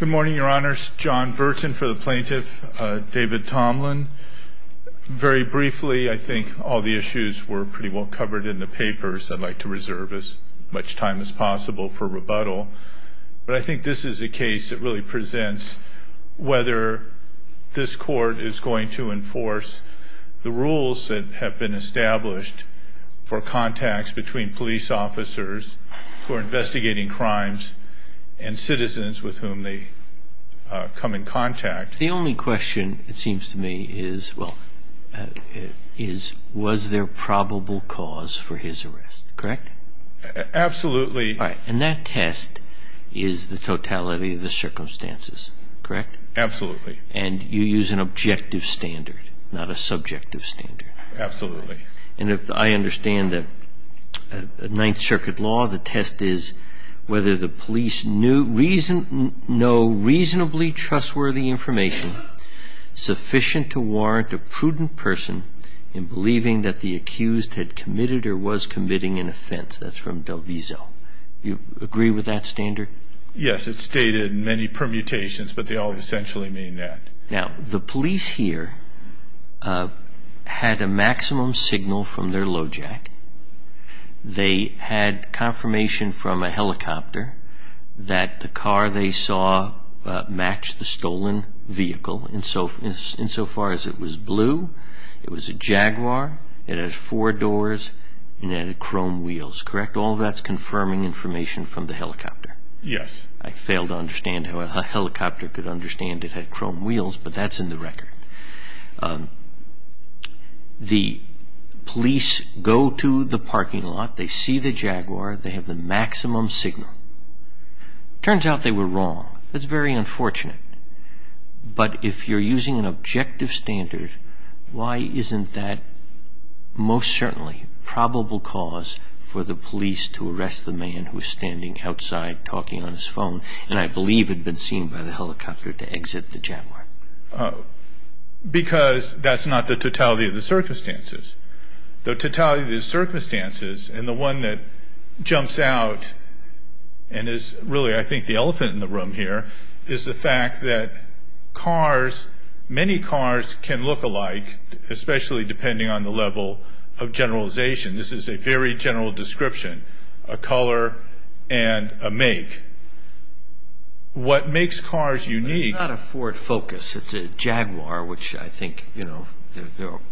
Good morning, your honors. John Burton for the plaintiff. David Tomlin. Very briefly, I think all the issues were pretty well covered in the papers. I'd like to reserve as much time as possible for rebuttal. But I think this is a case that really presents whether this court is going to enforce the rules that have been established for contacts between police officers who are investigating a crime. And citizens with whom they come in contact. The only question, it seems to me, is was there probable cause for his arrest, correct? Absolutely. And that test is the totality of the circumstances, correct? Absolutely. And you use an objective standard, not a subjective standard. Absolutely. And I understand that Ninth Circuit law, the test is whether the police know reasonably trustworthy information sufficient to warrant a prudent person in believing that the accused had committed or was committing an offense. That's from Del Vizo. Do you agree with that standard? Yes, it's stated in many permutations, but they all essentially mean that. Now, the police here had a maximum signal from their load jack. They had confirmation from a helicopter that the car they saw matched the stolen vehicle insofar as it was blue, it was a Jaguar, it had four doors, and it had chrome wheels, correct? All that's confirming information from the helicopter? Yes. I fail to understand how a helicopter could understand it had chrome wheels, but that's in the record. The police go to the parking lot, they see the Jaguar, they have the maximum signal. Turns out they were wrong. That's very unfortunate. But if you're using an objective standard, why isn't that most certainly probable cause for the police to arrest the man who's standing outside talking on his phone, and I believe had been seen by the helicopter to exit the Jaguar? Because that's not the totality of the circumstances. The totality of the circumstances, and the one that jumps out and is really, I think, the elephant in the room here, is the fact that many cars can look alike, especially depending on the level of generalization. This is a very general description, a color and a make. What makes cars unique... It's not a Ford Focus, it's a Jaguar, which I think,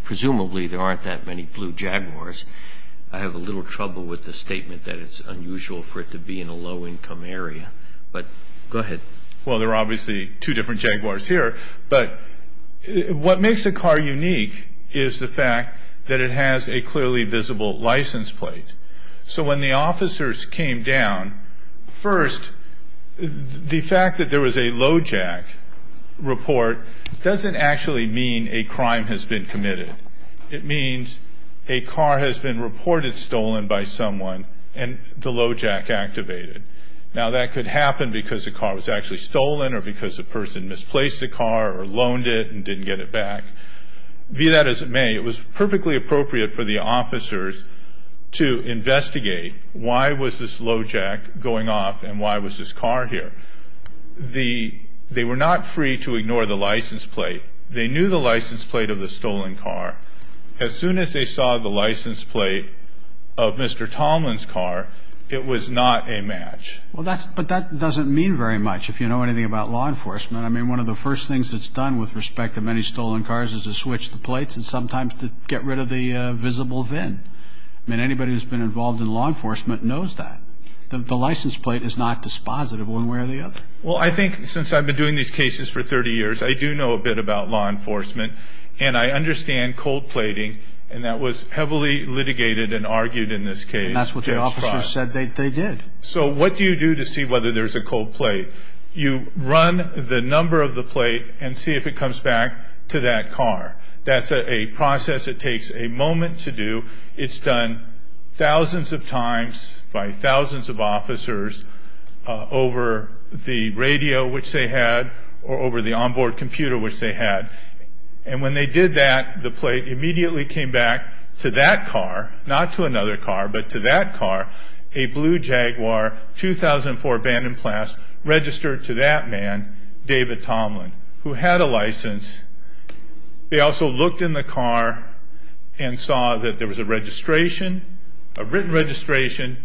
presumably there aren't that many blue Jaguars. I have a little trouble with the statement that it's unusual for it to be in a low income area, but go ahead. Well, there are obviously two different Jaguars here, but what makes a car unique is the fact that it has a clearly visible license plate. So when the officers came down, first, the fact that there was a low jack report doesn't actually mean a crime has been committed. It means a car has been reported stolen by someone, and the low jack activated. Now, that could happen because a car was actually stolen, or because a person misplaced a car, or loaned it and didn't get it back. Via that as it may, it was perfectly appropriate for the officers to investigate why was this low jack going off and why was this car here. They were not free to ignore the license plate. They knew the license plate of the stolen car. As soon as they saw the license plate of Mr. Tomlin's car, it was not a match. But that doesn't mean very much if you know anything about law enforcement. I mean, one of the first things that's done with respect to many stolen cars is to switch the plates and sometimes to get rid of the visible VIN. I mean, anybody who's been involved in law enforcement knows that. The license plate is not dispositive one way or the other. Well, I think since I've been doing these cases for 30 years, I do know a bit about law enforcement, and I understand cold plating, and that was heavily litigated and argued in this case. That's what the officers said they did. So what do you do to see whether there's a cold plate? You run the number of the plate and see if it comes back to that car. That's a process that takes a moment to do. It's done thousands of times by thousands of officers over the radio, which they had, or over the onboard computer, which they had. And when they did that, the plate immediately came back to that car, not to another car, but to that car, a blue Jaguar 2004 abandoned class registered to that man, David Tomlin, who had a license. They also looked in the car and saw that there was a registration, a written registration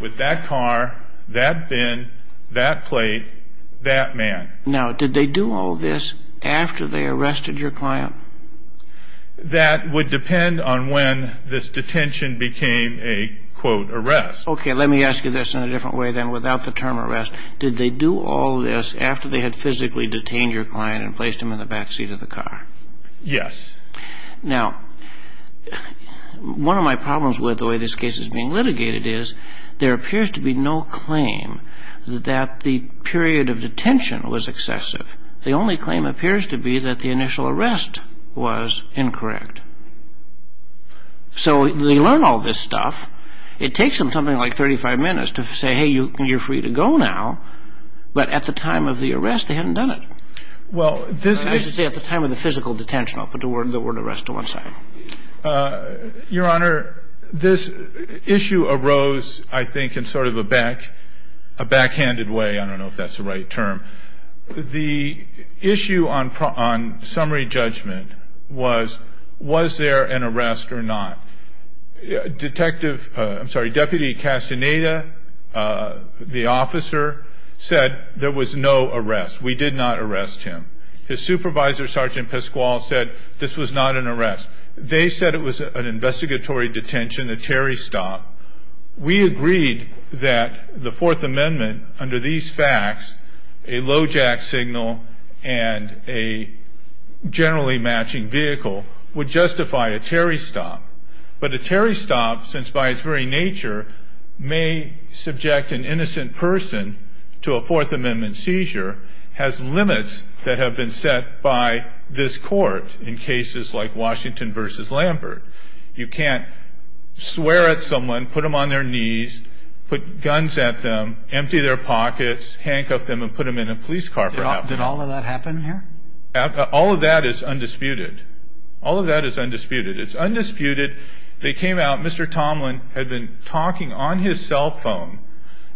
with that car, that VIN, that plate, that man. Now, did they do all this after they arrested your client? That would depend on when this detention became a, quote, arrest. Okay, let me ask you this in a different way, then, without the term arrest. Did they do all this after they had physically detained your client and placed him in the back seat of the car? Yes. Now, one of my problems with the way this case is being litigated is there appears to be no claim that the period of detention was excessive. The only claim appears to be that the initial arrest was incorrect. So they learn all this stuff. It takes them something like 35 minutes to say, hey, you're free to go now. But at the time of the arrest, they hadn't done it. I should say at the time of the physical detention. I'll put the word arrest to one side. Your Honor, this issue arose, I think, in sort of a backhanded way. I don't know if that's the right term. The issue on summary judgment was, was there an arrest or not? Detective, I'm sorry, Deputy Castaneda, the officer, said there was no arrest. We did not arrest him. His supervisor, Sergeant Pasquale, said this was not an arrest. They said it was an investigatory detention, a Terry stop. We agreed that the Fourth Amendment, under these facts, a low jack signal and a generally matching vehicle would justify a Terry stop. But a Terry stop, since by its very nature may subject an innocent person to a Fourth Amendment seizure, has limits that have been set by this court in cases like Washington v. Lambert. You can't swear at someone, put them on their knees, put guns at them, empty their pockets, handcuff them, and put them in a police car for half an hour. Did all of that happen here? All of that is undisputed. All of that is undisputed. It's undisputed. They came out. Mr. Tomlin had been talking on his cell phone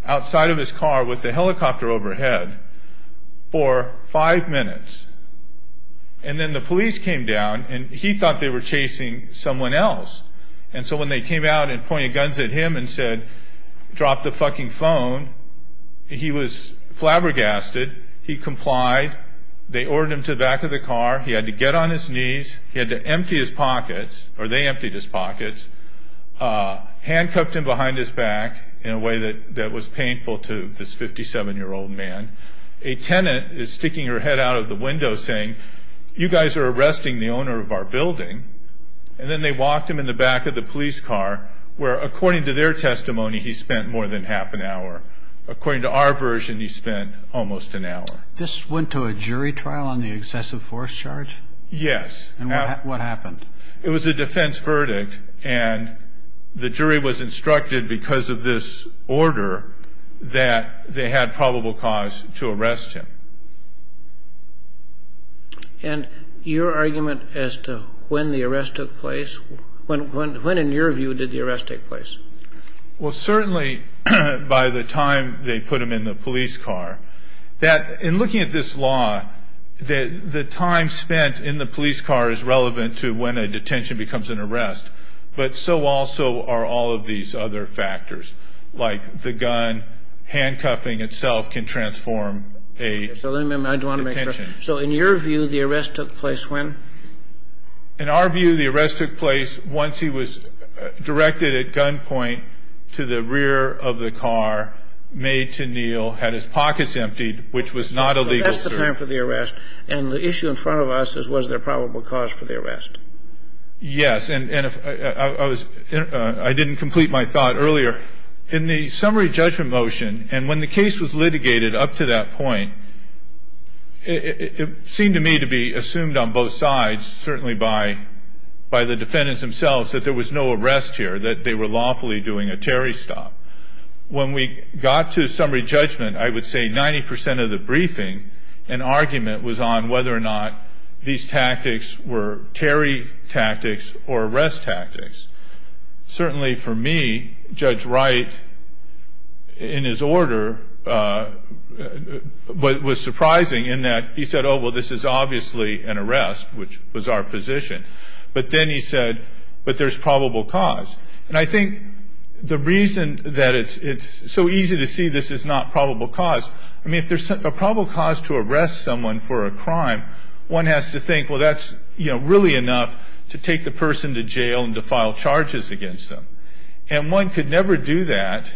outside of his car with the helicopter overhead for five minutes. And then the police came down, and he thought they were chasing someone else. And so when they came out and pointed guns at him and said, drop the fucking phone, he was flabbergasted. He complied. They ordered him to the back of the car. He had to get on his knees. He had to empty his pockets, or they emptied his pockets, handcuffed him behind his back in a way that was painful to this 57-year-old man. And a tenant is sticking her head out of the window saying, you guys are arresting the owner of our building. And then they walked him in the back of the police car where, according to their testimony, he spent more than half an hour. According to our version, he spent almost an hour. This went to a jury trial on the excessive force charge? Yes. And what happened? It was a defense verdict. And the jury was instructed, because of this order, that they had probable cause to arrest him. And your argument as to when the arrest took place, when, in your view, did the arrest take place? Well, certainly by the time they put him in the police car. In looking at this law, the time spent in the police car is relevant to when a detention becomes an arrest. But so also are all of these other factors, like the gun, handcuffing itself can transform a detention. So in your view, the arrest took place when? In our view, the arrest took place once he was directed at gunpoint to the rear of the car, made to kneel, had his pockets emptied, which was not a legal term. So that's the time for the arrest. And the issue in front of us is was there probable cause for the arrest? Yes. And I didn't complete my thought earlier. In the summary judgment motion, and when the case was litigated up to that point, it seemed to me to be assumed on both sides, certainly by the defendants themselves, that there was no arrest here, that they were lawfully doing a Terry stop. When we got to summary judgment, I would say 90 percent of the briefing, an argument was on whether or not these tactics were Terry tactics or arrest tactics. Certainly for me, Judge Wright, in his order, what was surprising in that he said, oh, well, this is obviously an arrest, which was our position. But then he said, but there's probable cause. And I think the reason that it's so easy to see this is not probable cause, I mean, if there's a probable cause to arrest someone for a crime, one has to think, well, that's, you know, really enough to take the person to jail and to file charges against them. And one could never do that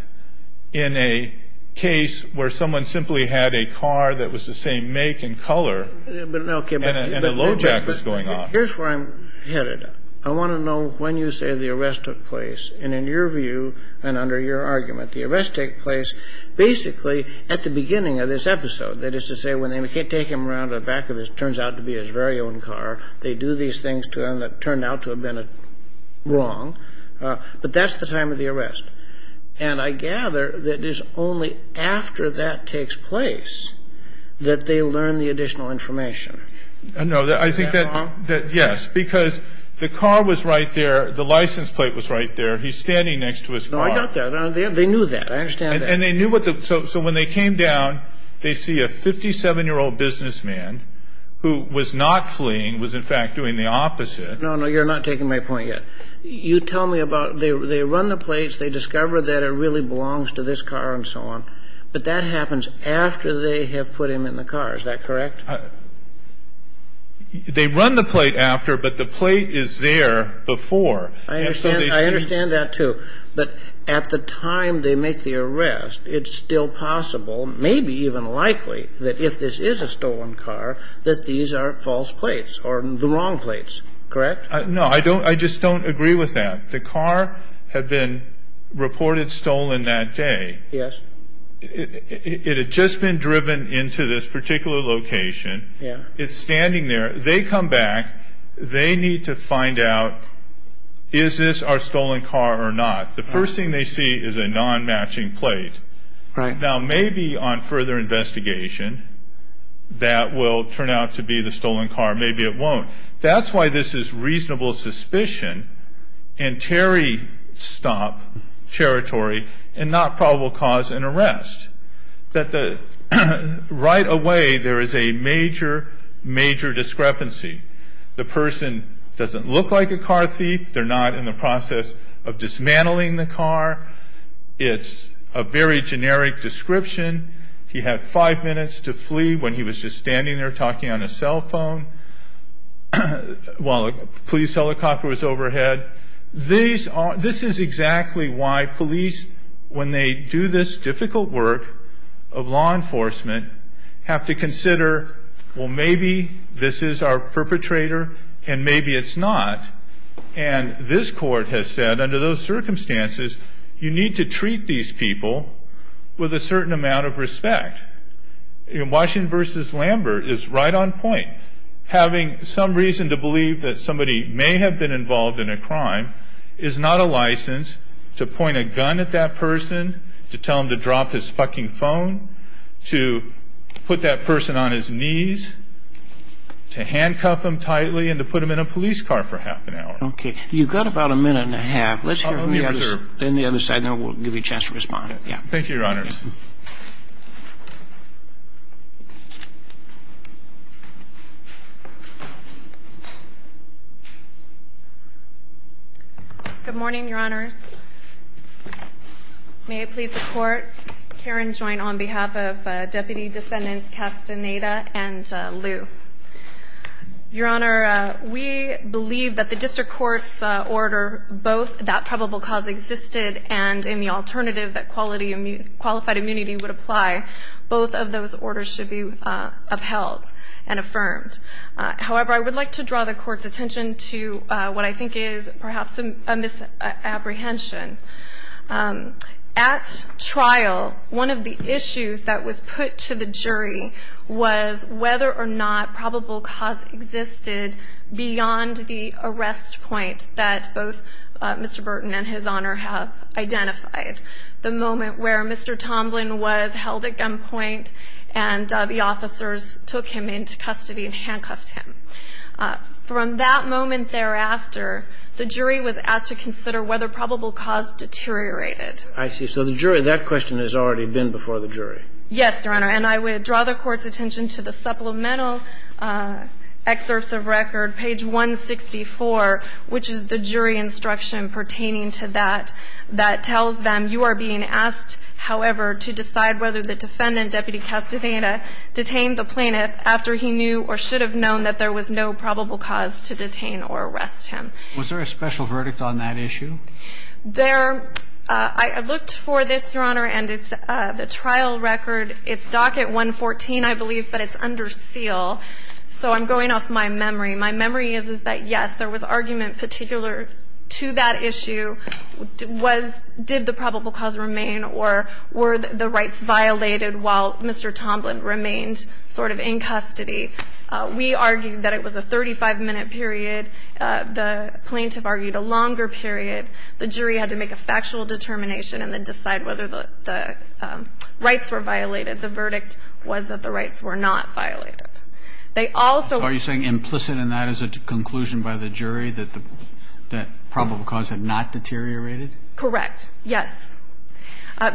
in a case where someone simply had a car that was the same make and color and a load rack was going off. Here's where I'm headed. I want to know when you say the arrest took place. And in your view and under your argument, the arrest took place basically at the beginning of this episode. That is to say, when they take him around to the back of what turns out to be his very own car, they do these things to him that turned out to have been wrong. But that's the time of the arrest. And I gather that it is only after that takes place that they learn the additional information. No, I think that, yes, because the car was right there. The license plate was right there. He's standing next to his car. No, I got that. They knew that. I understand that. And they knew what the, so when they came down, they see a 57-year-old businessman who was not fleeing, was in fact doing the opposite. No, no, you're not taking my point yet. You tell me about, they run the plates. They discover that it really belongs to this car and so on. But that happens after they have put him in the car. Is that correct? They run the plate after, but the plate is there before. I understand that too. But at the time they make the arrest, it's still possible, maybe even likely, that if this is a stolen car, that these are false plates or the wrong plates. Correct? No, I just don't agree with that. The car had been reported stolen that day. Yes. It had just been driven into this particular location. It's standing there. They come back. They need to find out, is this our stolen car or not? The first thing they see is a non-matching plate. Now, maybe on further investigation, that will turn out to be the stolen car. Maybe it won't. That's why this is reasonable suspicion and terry-stop territory and not probable cause and arrest. Right away, there is a major, major discrepancy. The person doesn't look like a car thief. They're not in the process of dismantling the car. It's a very generic description. He had five minutes to flee when he was just standing there talking on his cell phone while a police helicopter was overhead. This is exactly why police, when they do this difficult work of law enforcement, have to consider, well, maybe this is our perpetrator and maybe it's not. And this court has said, under those circumstances, you need to treat these people with a certain amount of respect. Washington v. Lambert is right on point. Having some reason to believe that somebody may have been involved in a crime is not a license to point a gun at that person, to tell him to drop his fucking phone, to put that person on his knees, to handcuff him tightly, and to put him in a police car for half an hour. Okay. You've got about a minute and a half. Let's hear from the other side, and then we'll give you a chance to respond. Thank you, Your Honor. Good morning, Your Honor. May it please the Court, Karen Joynt on behalf of Deputy Defendants Castaneda and Liu. Your Honor, we believe that the district court's order, both that probable cause existed and in the alternative that qualified immunity would apply, both of those orders should be upheld and affirmed. However, I would like to draw the Court's attention to what I think is perhaps a misapprehension. At trial, one of the issues that was put to the jury was whether or not probable cause existed beyond the arrest point that both Mr. Burton and His Honor have identified, the moment where Mr. Tomlin was held at gunpoint and the officers took him into custody and handcuffed him. From that moment thereafter, the jury was asked to consider whether probable cause deteriorated. I see. So the jury, that question has already been before the jury. Yes, Your Honor. And I would draw the Court's attention to the supplemental excerpts of record, page 164, which is the jury instruction pertaining to that, that tells them you are being asked, however, to decide whether the defendant, Deputy Castaneda, detained the plaintiff after he knew or should have known that there was no probable cause to detain or arrest him. Was there a special verdict on that issue? There – I looked for this, Your Honor, and it's the trial record. It's docket 114, I believe, but it's under seal. So I'm going off my memory. My memory is that, yes, there was argument particular to that issue was did the probable cause remain or were the rights violated while Mr. Tomlin remained sort of in custody. We argued that it was a 35-minute period. The plaintiff argued a longer period. The jury had to make a factual determination and then decide whether the rights were violated. The verdict was that the rights were not violated. They also – So are you saying implicit in that is a conclusion by the jury that the probable cause had not deteriorated? Correct. Yes.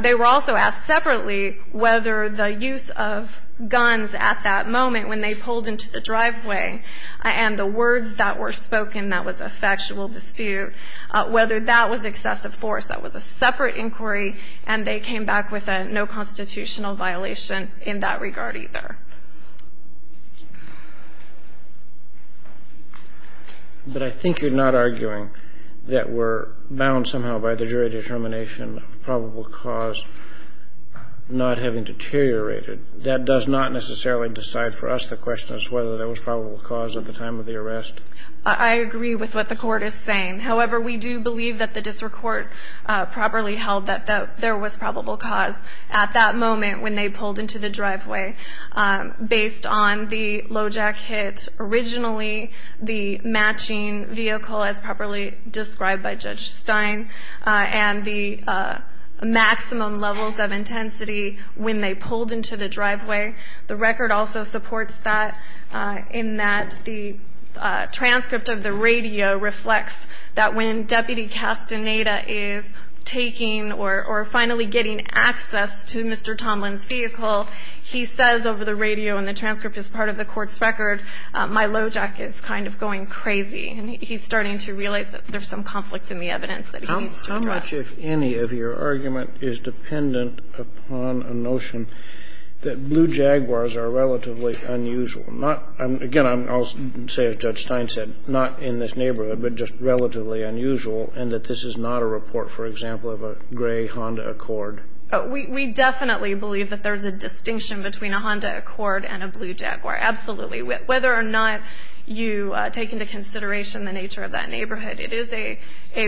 They were also asked separately whether the use of guns at that moment when they were spoken, that was a factual dispute, whether that was excessive force. That was a separate inquiry, and they came back with a no constitutional violation in that regard either. But I think you're not arguing that we're bound somehow by the jury determination of probable cause not having deteriorated. That does not necessarily decide for us the question as to whether there was probable cause at the time of the arrest. I agree with what the court is saying. However, we do believe that the district court properly held that there was probable cause at that moment when they pulled into the driveway. Based on the low jack hit originally, the matching vehicle, as properly described by Judge Stein, and the maximum levels of intensity when they pulled into the driveway, the record also supports that in that the transcript of the radio reflects that when Deputy Castaneda is taking or finally getting access to Mr. Tomlin's vehicle, he says over the radio, and the transcript is part of the court's record, my low jack is kind of going crazy. And he's starting to realize that there's some conflict in the evidence that he needs to address. And I think that much, if any, of your argument is dependent upon a notion that blue Jaguars are relatively unusual. Again, I'll say, as Judge Stein said, not in this neighborhood, but just relatively unusual, and that this is not a report, for example, of a gray Honda Accord. We definitely believe that there's a distinction between a Honda Accord and a blue Jaguar, absolutely. Whether or not you take into consideration the nature of that neighborhood, it is a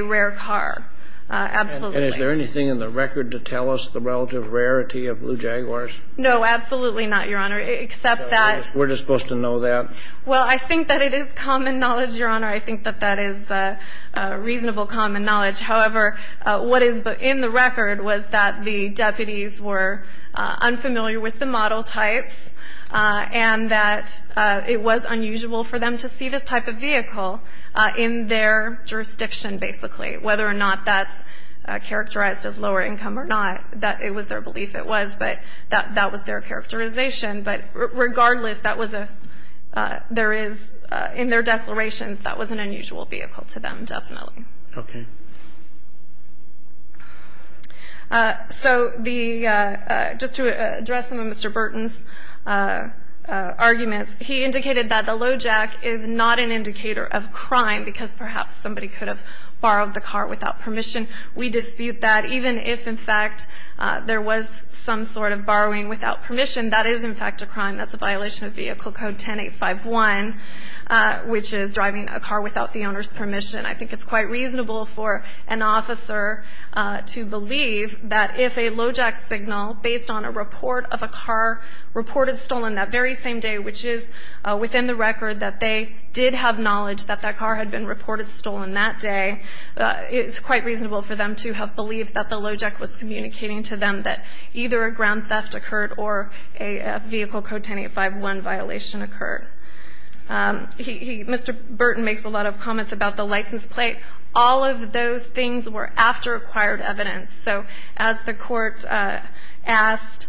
rare car, absolutely. And is there anything in the record to tell us the relative rarity of blue Jaguars? No, absolutely not, Your Honor, except that. So we're just supposed to know that? Well, I think that it is common knowledge, Your Honor. I think that that is reasonable common knowledge. However, what is in the record was that the deputies were unfamiliar with the model types, and that it was unusual for them to see this type of vehicle in their jurisdiction, basically. Whether or not that's characterized as lower income or not, it was their belief it was, but that was their characterization. But regardless, that was a ñ there is ñ in their declarations, that was an unusual vehicle to them, definitely. Okay. So the ñ just to address some of Mr. Burton's arguments, he indicated that the low jack is not an indicator of crime, because perhaps somebody could have borrowed the car without permission. We dispute that. Even if, in fact, there was some sort of borrowing without permission, that is, in fact, a crime. That's a violation of Vehicle Code 10851, which is driving a car without the owner's permission. I think it's quite reasonable for an officer to believe that if a low jack signal, based on a report of a car reported stolen that very same day, which is within the record that they did have knowledge that that car had been reported stolen that day, it's quite reasonable for them to have believed that the low jack was communicating to them that either a ground theft occurred or a Vehicle Code 10851 violation occurred. Mr. Burton makes a lot of comments about the license plate. All of those things were after acquired evidence. So as the Court asked,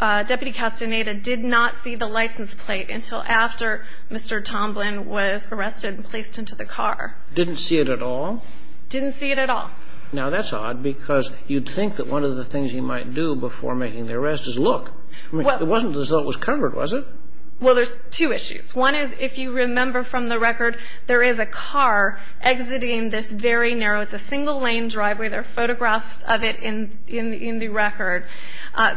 Deputy Castaneda did not see the license plate until after Mr. Tomlin was arrested and placed into the car. Didn't see it at all? Didn't see it at all. Now, that's odd, because you'd think that one of the things he might do before making the arrest is look. It wasn't as though it was covered, was it? Well, there's two issues. One is, if you remember from the record, there is a car exiting this very narrow. It's a single-lane driveway. There are photographs of it in the record.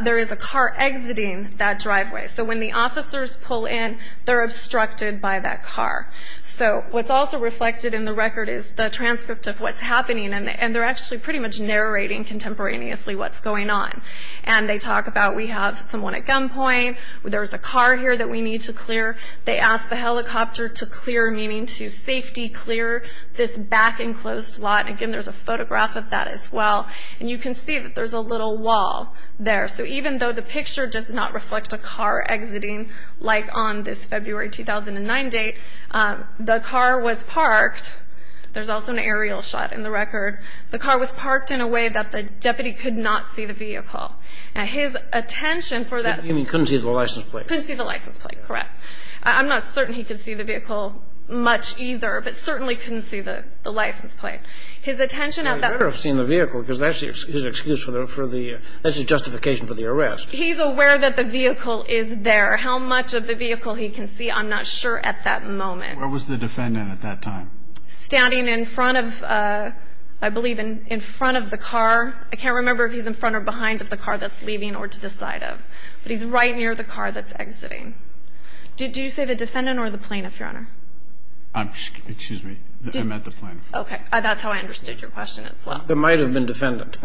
There is a car exiting that driveway. So when the officers pull in, they're obstructed by that car. So what's also reflected in the record is the transcript of what's happening, and they're actually pretty much narrating contemporaneously what's going on. And they talk about, we have someone at gunpoint. There's a car here that we need to clear. They ask the helicopter to clear, meaning to safety clear this back-enclosed lot. Again, there's a photograph of that as well. And you can see that there's a little wall there. So even though the picture does not reflect a car exiting, like on this February 2009 date, the car was parked. There's also an aerial shot in the record. The car was parked in a way that the deputy could not see the vehicle. Now, his attention for that. You mean couldn't see the license plate? Correct. I'm not certain he could see the vehicle much either, but certainly couldn't see the license plate. His attention at that. He better have seen the vehicle because that's his excuse for the, that's his justification for the arrest. He's aware that the vehicle is there. How much of the vehicle he can see, I'm not sure at that moment. Where was the defendant at that time? Standing in front of, I believe in front of the car. I can't remember if he's in front or behind of the car that's leaving or to the side of. But he's right near the car that's exiting. Did you say the defendant or the plaintiff, Your Honor? Excuse me. I meant the plaintiff. Okay. That's how I understood your question as well. There might have been defendant.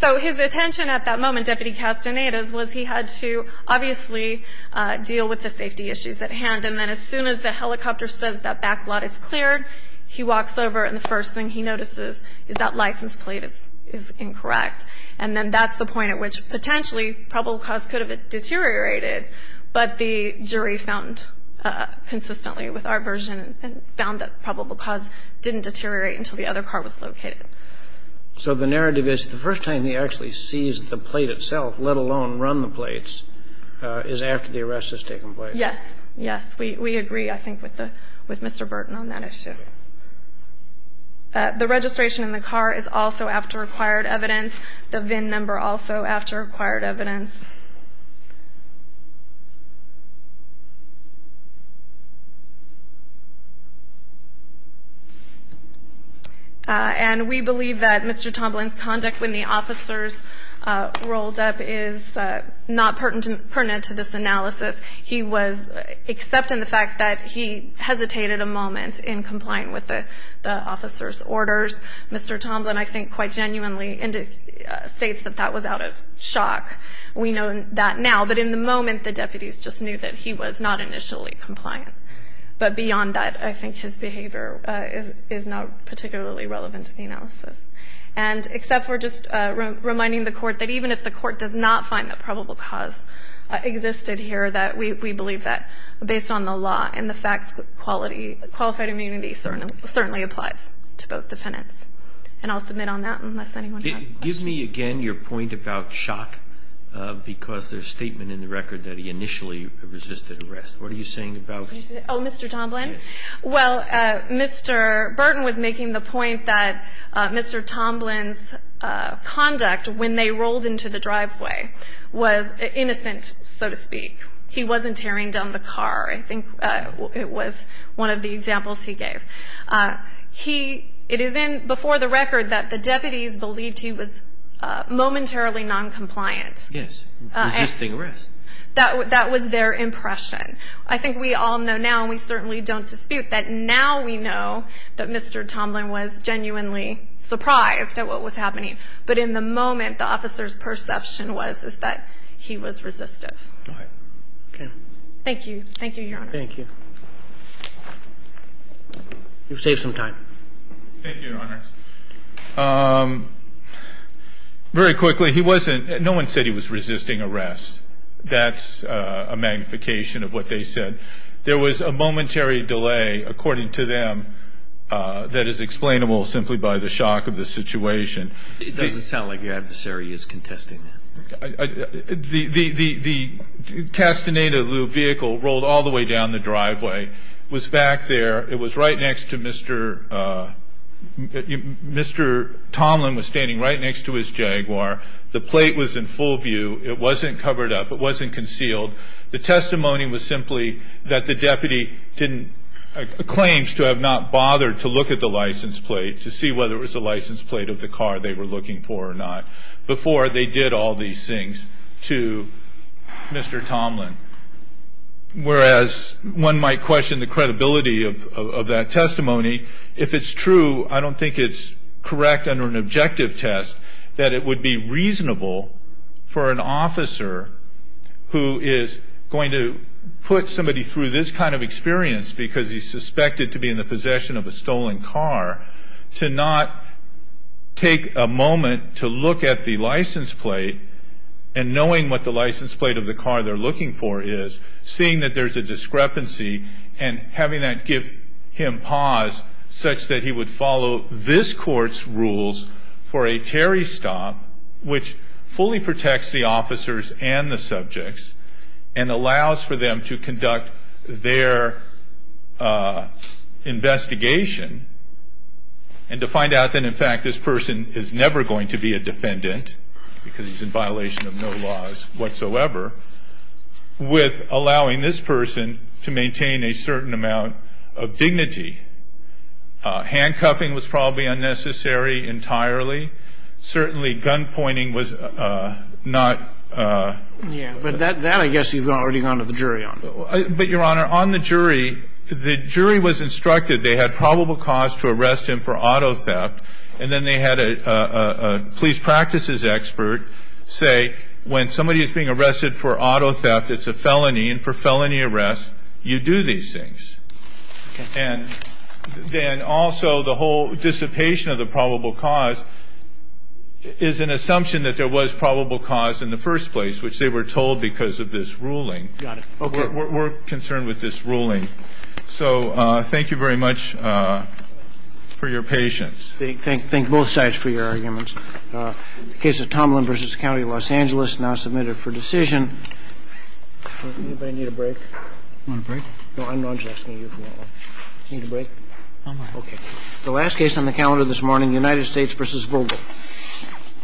So his attention at that moment, Deputy Castaneda's, was he had to obviously deal with the safety issues at hand. And then as soon as the helicopter says that back lot is cleared, he walks over. And the first thing he notices is that license plate is incorrect. And then that's the point at which potentially probable cause could have deteriorated. But the jury found consistently with our version and found that probable cause didn't deteriorate until the other car was located. So the narrative is the first time he actually sees the plate itself, let alone run the plates, is after the arrest has taken place. Yes. Yes. We agree, I think, with Mr. Burton on that issue. The registration in the car is also after required evidence. The VIN number also after required evidence. And we believe that Mr. Tomlin's conduct when the officers rolled up is not pertinent to this analysis. He was, except in the fact that he hesitated a moment in complying with the officers' orders. Mr. Tomlin, I think, quite genuinely states that that was out of shock. We know that now. But in the moment, the deputies just knew that he was not initially compliant. But beyond that, I think his behavior is not particularly relevant to the analysis. And except for just reminding the Court that even if the Court does not find that probable cause existed here, that we believe that based on the law and the facts, quality, qualified immunity certainly applies to both defendants. And I'll submit on that unless anyone has a question. Give me again your point about shock, because there's statement in the record that he initially resisted arrest. What are you saying about that? Oh, Mr. Tomlin? Yes. Well, Mr. Burton was making the point that Mr. Tomlin's conduct when they rolled into the driveway was innocent, so to speak. He wasn't tearing down the car. I think it was one of the examples he gave. He – it is in before the record that the deputies believed he was momentarily noncompliant. Yes. Resisting arrest. That was their impression. I think we all know now, and we certainly don't dispute, that now we know that Mr. Tomlin was genuinely surprised at what was happening. But in the moment, the officer's perception was is that he was resistive. All right. Okay. Thank you. Thank you, Your Honors. Thank you. You've saved some time. Thank you, Your Honors. Very quickly, he wasn't – no one said he was resisting arrest. That's a magnification of what they said. There was a momentary delay, according to them, that is explainable simply by the shock of the situation. It doesn't sound like your adversary is contesting that. The castanet de loup vehicle rolled all the way down the driveway, was back there. It was right next to Mr. – Mr. Tomlin was standing right next to his Jaguar. The plate was in full view. It wasn't covered up. It wasn't concealed. The testimony was simply that the deputy didn't – claims to have not bothered to look at the license plate to see whether it was the license plate of the car they were looking for or not before they did all these things to Mr. Tomlin. Whereas one might question the credibility of that testimony, if it's true, I don't think it's correct under an objective test that it would be reasonable for an officer who is going to put somebody through this kind of experience because he's suspected to be in the possession of a stolen car to not take a moment to look at the license plate and knowing what the license plate of the car they're looking for is, seeing that there's a discrepancy and having that give him pause such that he would follow this court's rules for a Terry stop, which fully protects the officers and the subjects and allows for them to conduct their investigation and to find out that in fact this person is never going to be a defendant because he's in violation of no laws whatsoever with allowing this person to maintain a certain amount of dignity. Handcuffing was probably unnecessary entirely. Certainly gunpointing was not – Yeah, but that I guess you've already gone to the jury on. But, Your Honor, on the jury, the jury was instructed they had probable cause to arrest him for auto theft and then they had a police practices expert say when somebody is being arrested for auto theft, it's a felony and for felony arrest you do these things. And then also the whole dissipation of the probable cause is an assumption that there was probable cause in the first place, which they were told because of this ruling. We're concerned with this ruling. So thank you very much for your patience. Thank both sides for your arguments. The case of Tomlin v. County of Los Angeles now submitted for decision. Anybody need a break? Want a break? No, I'm just asking you if you want one. Need a break? Okay. The last case on the calendar this morning, United States v. Vogel.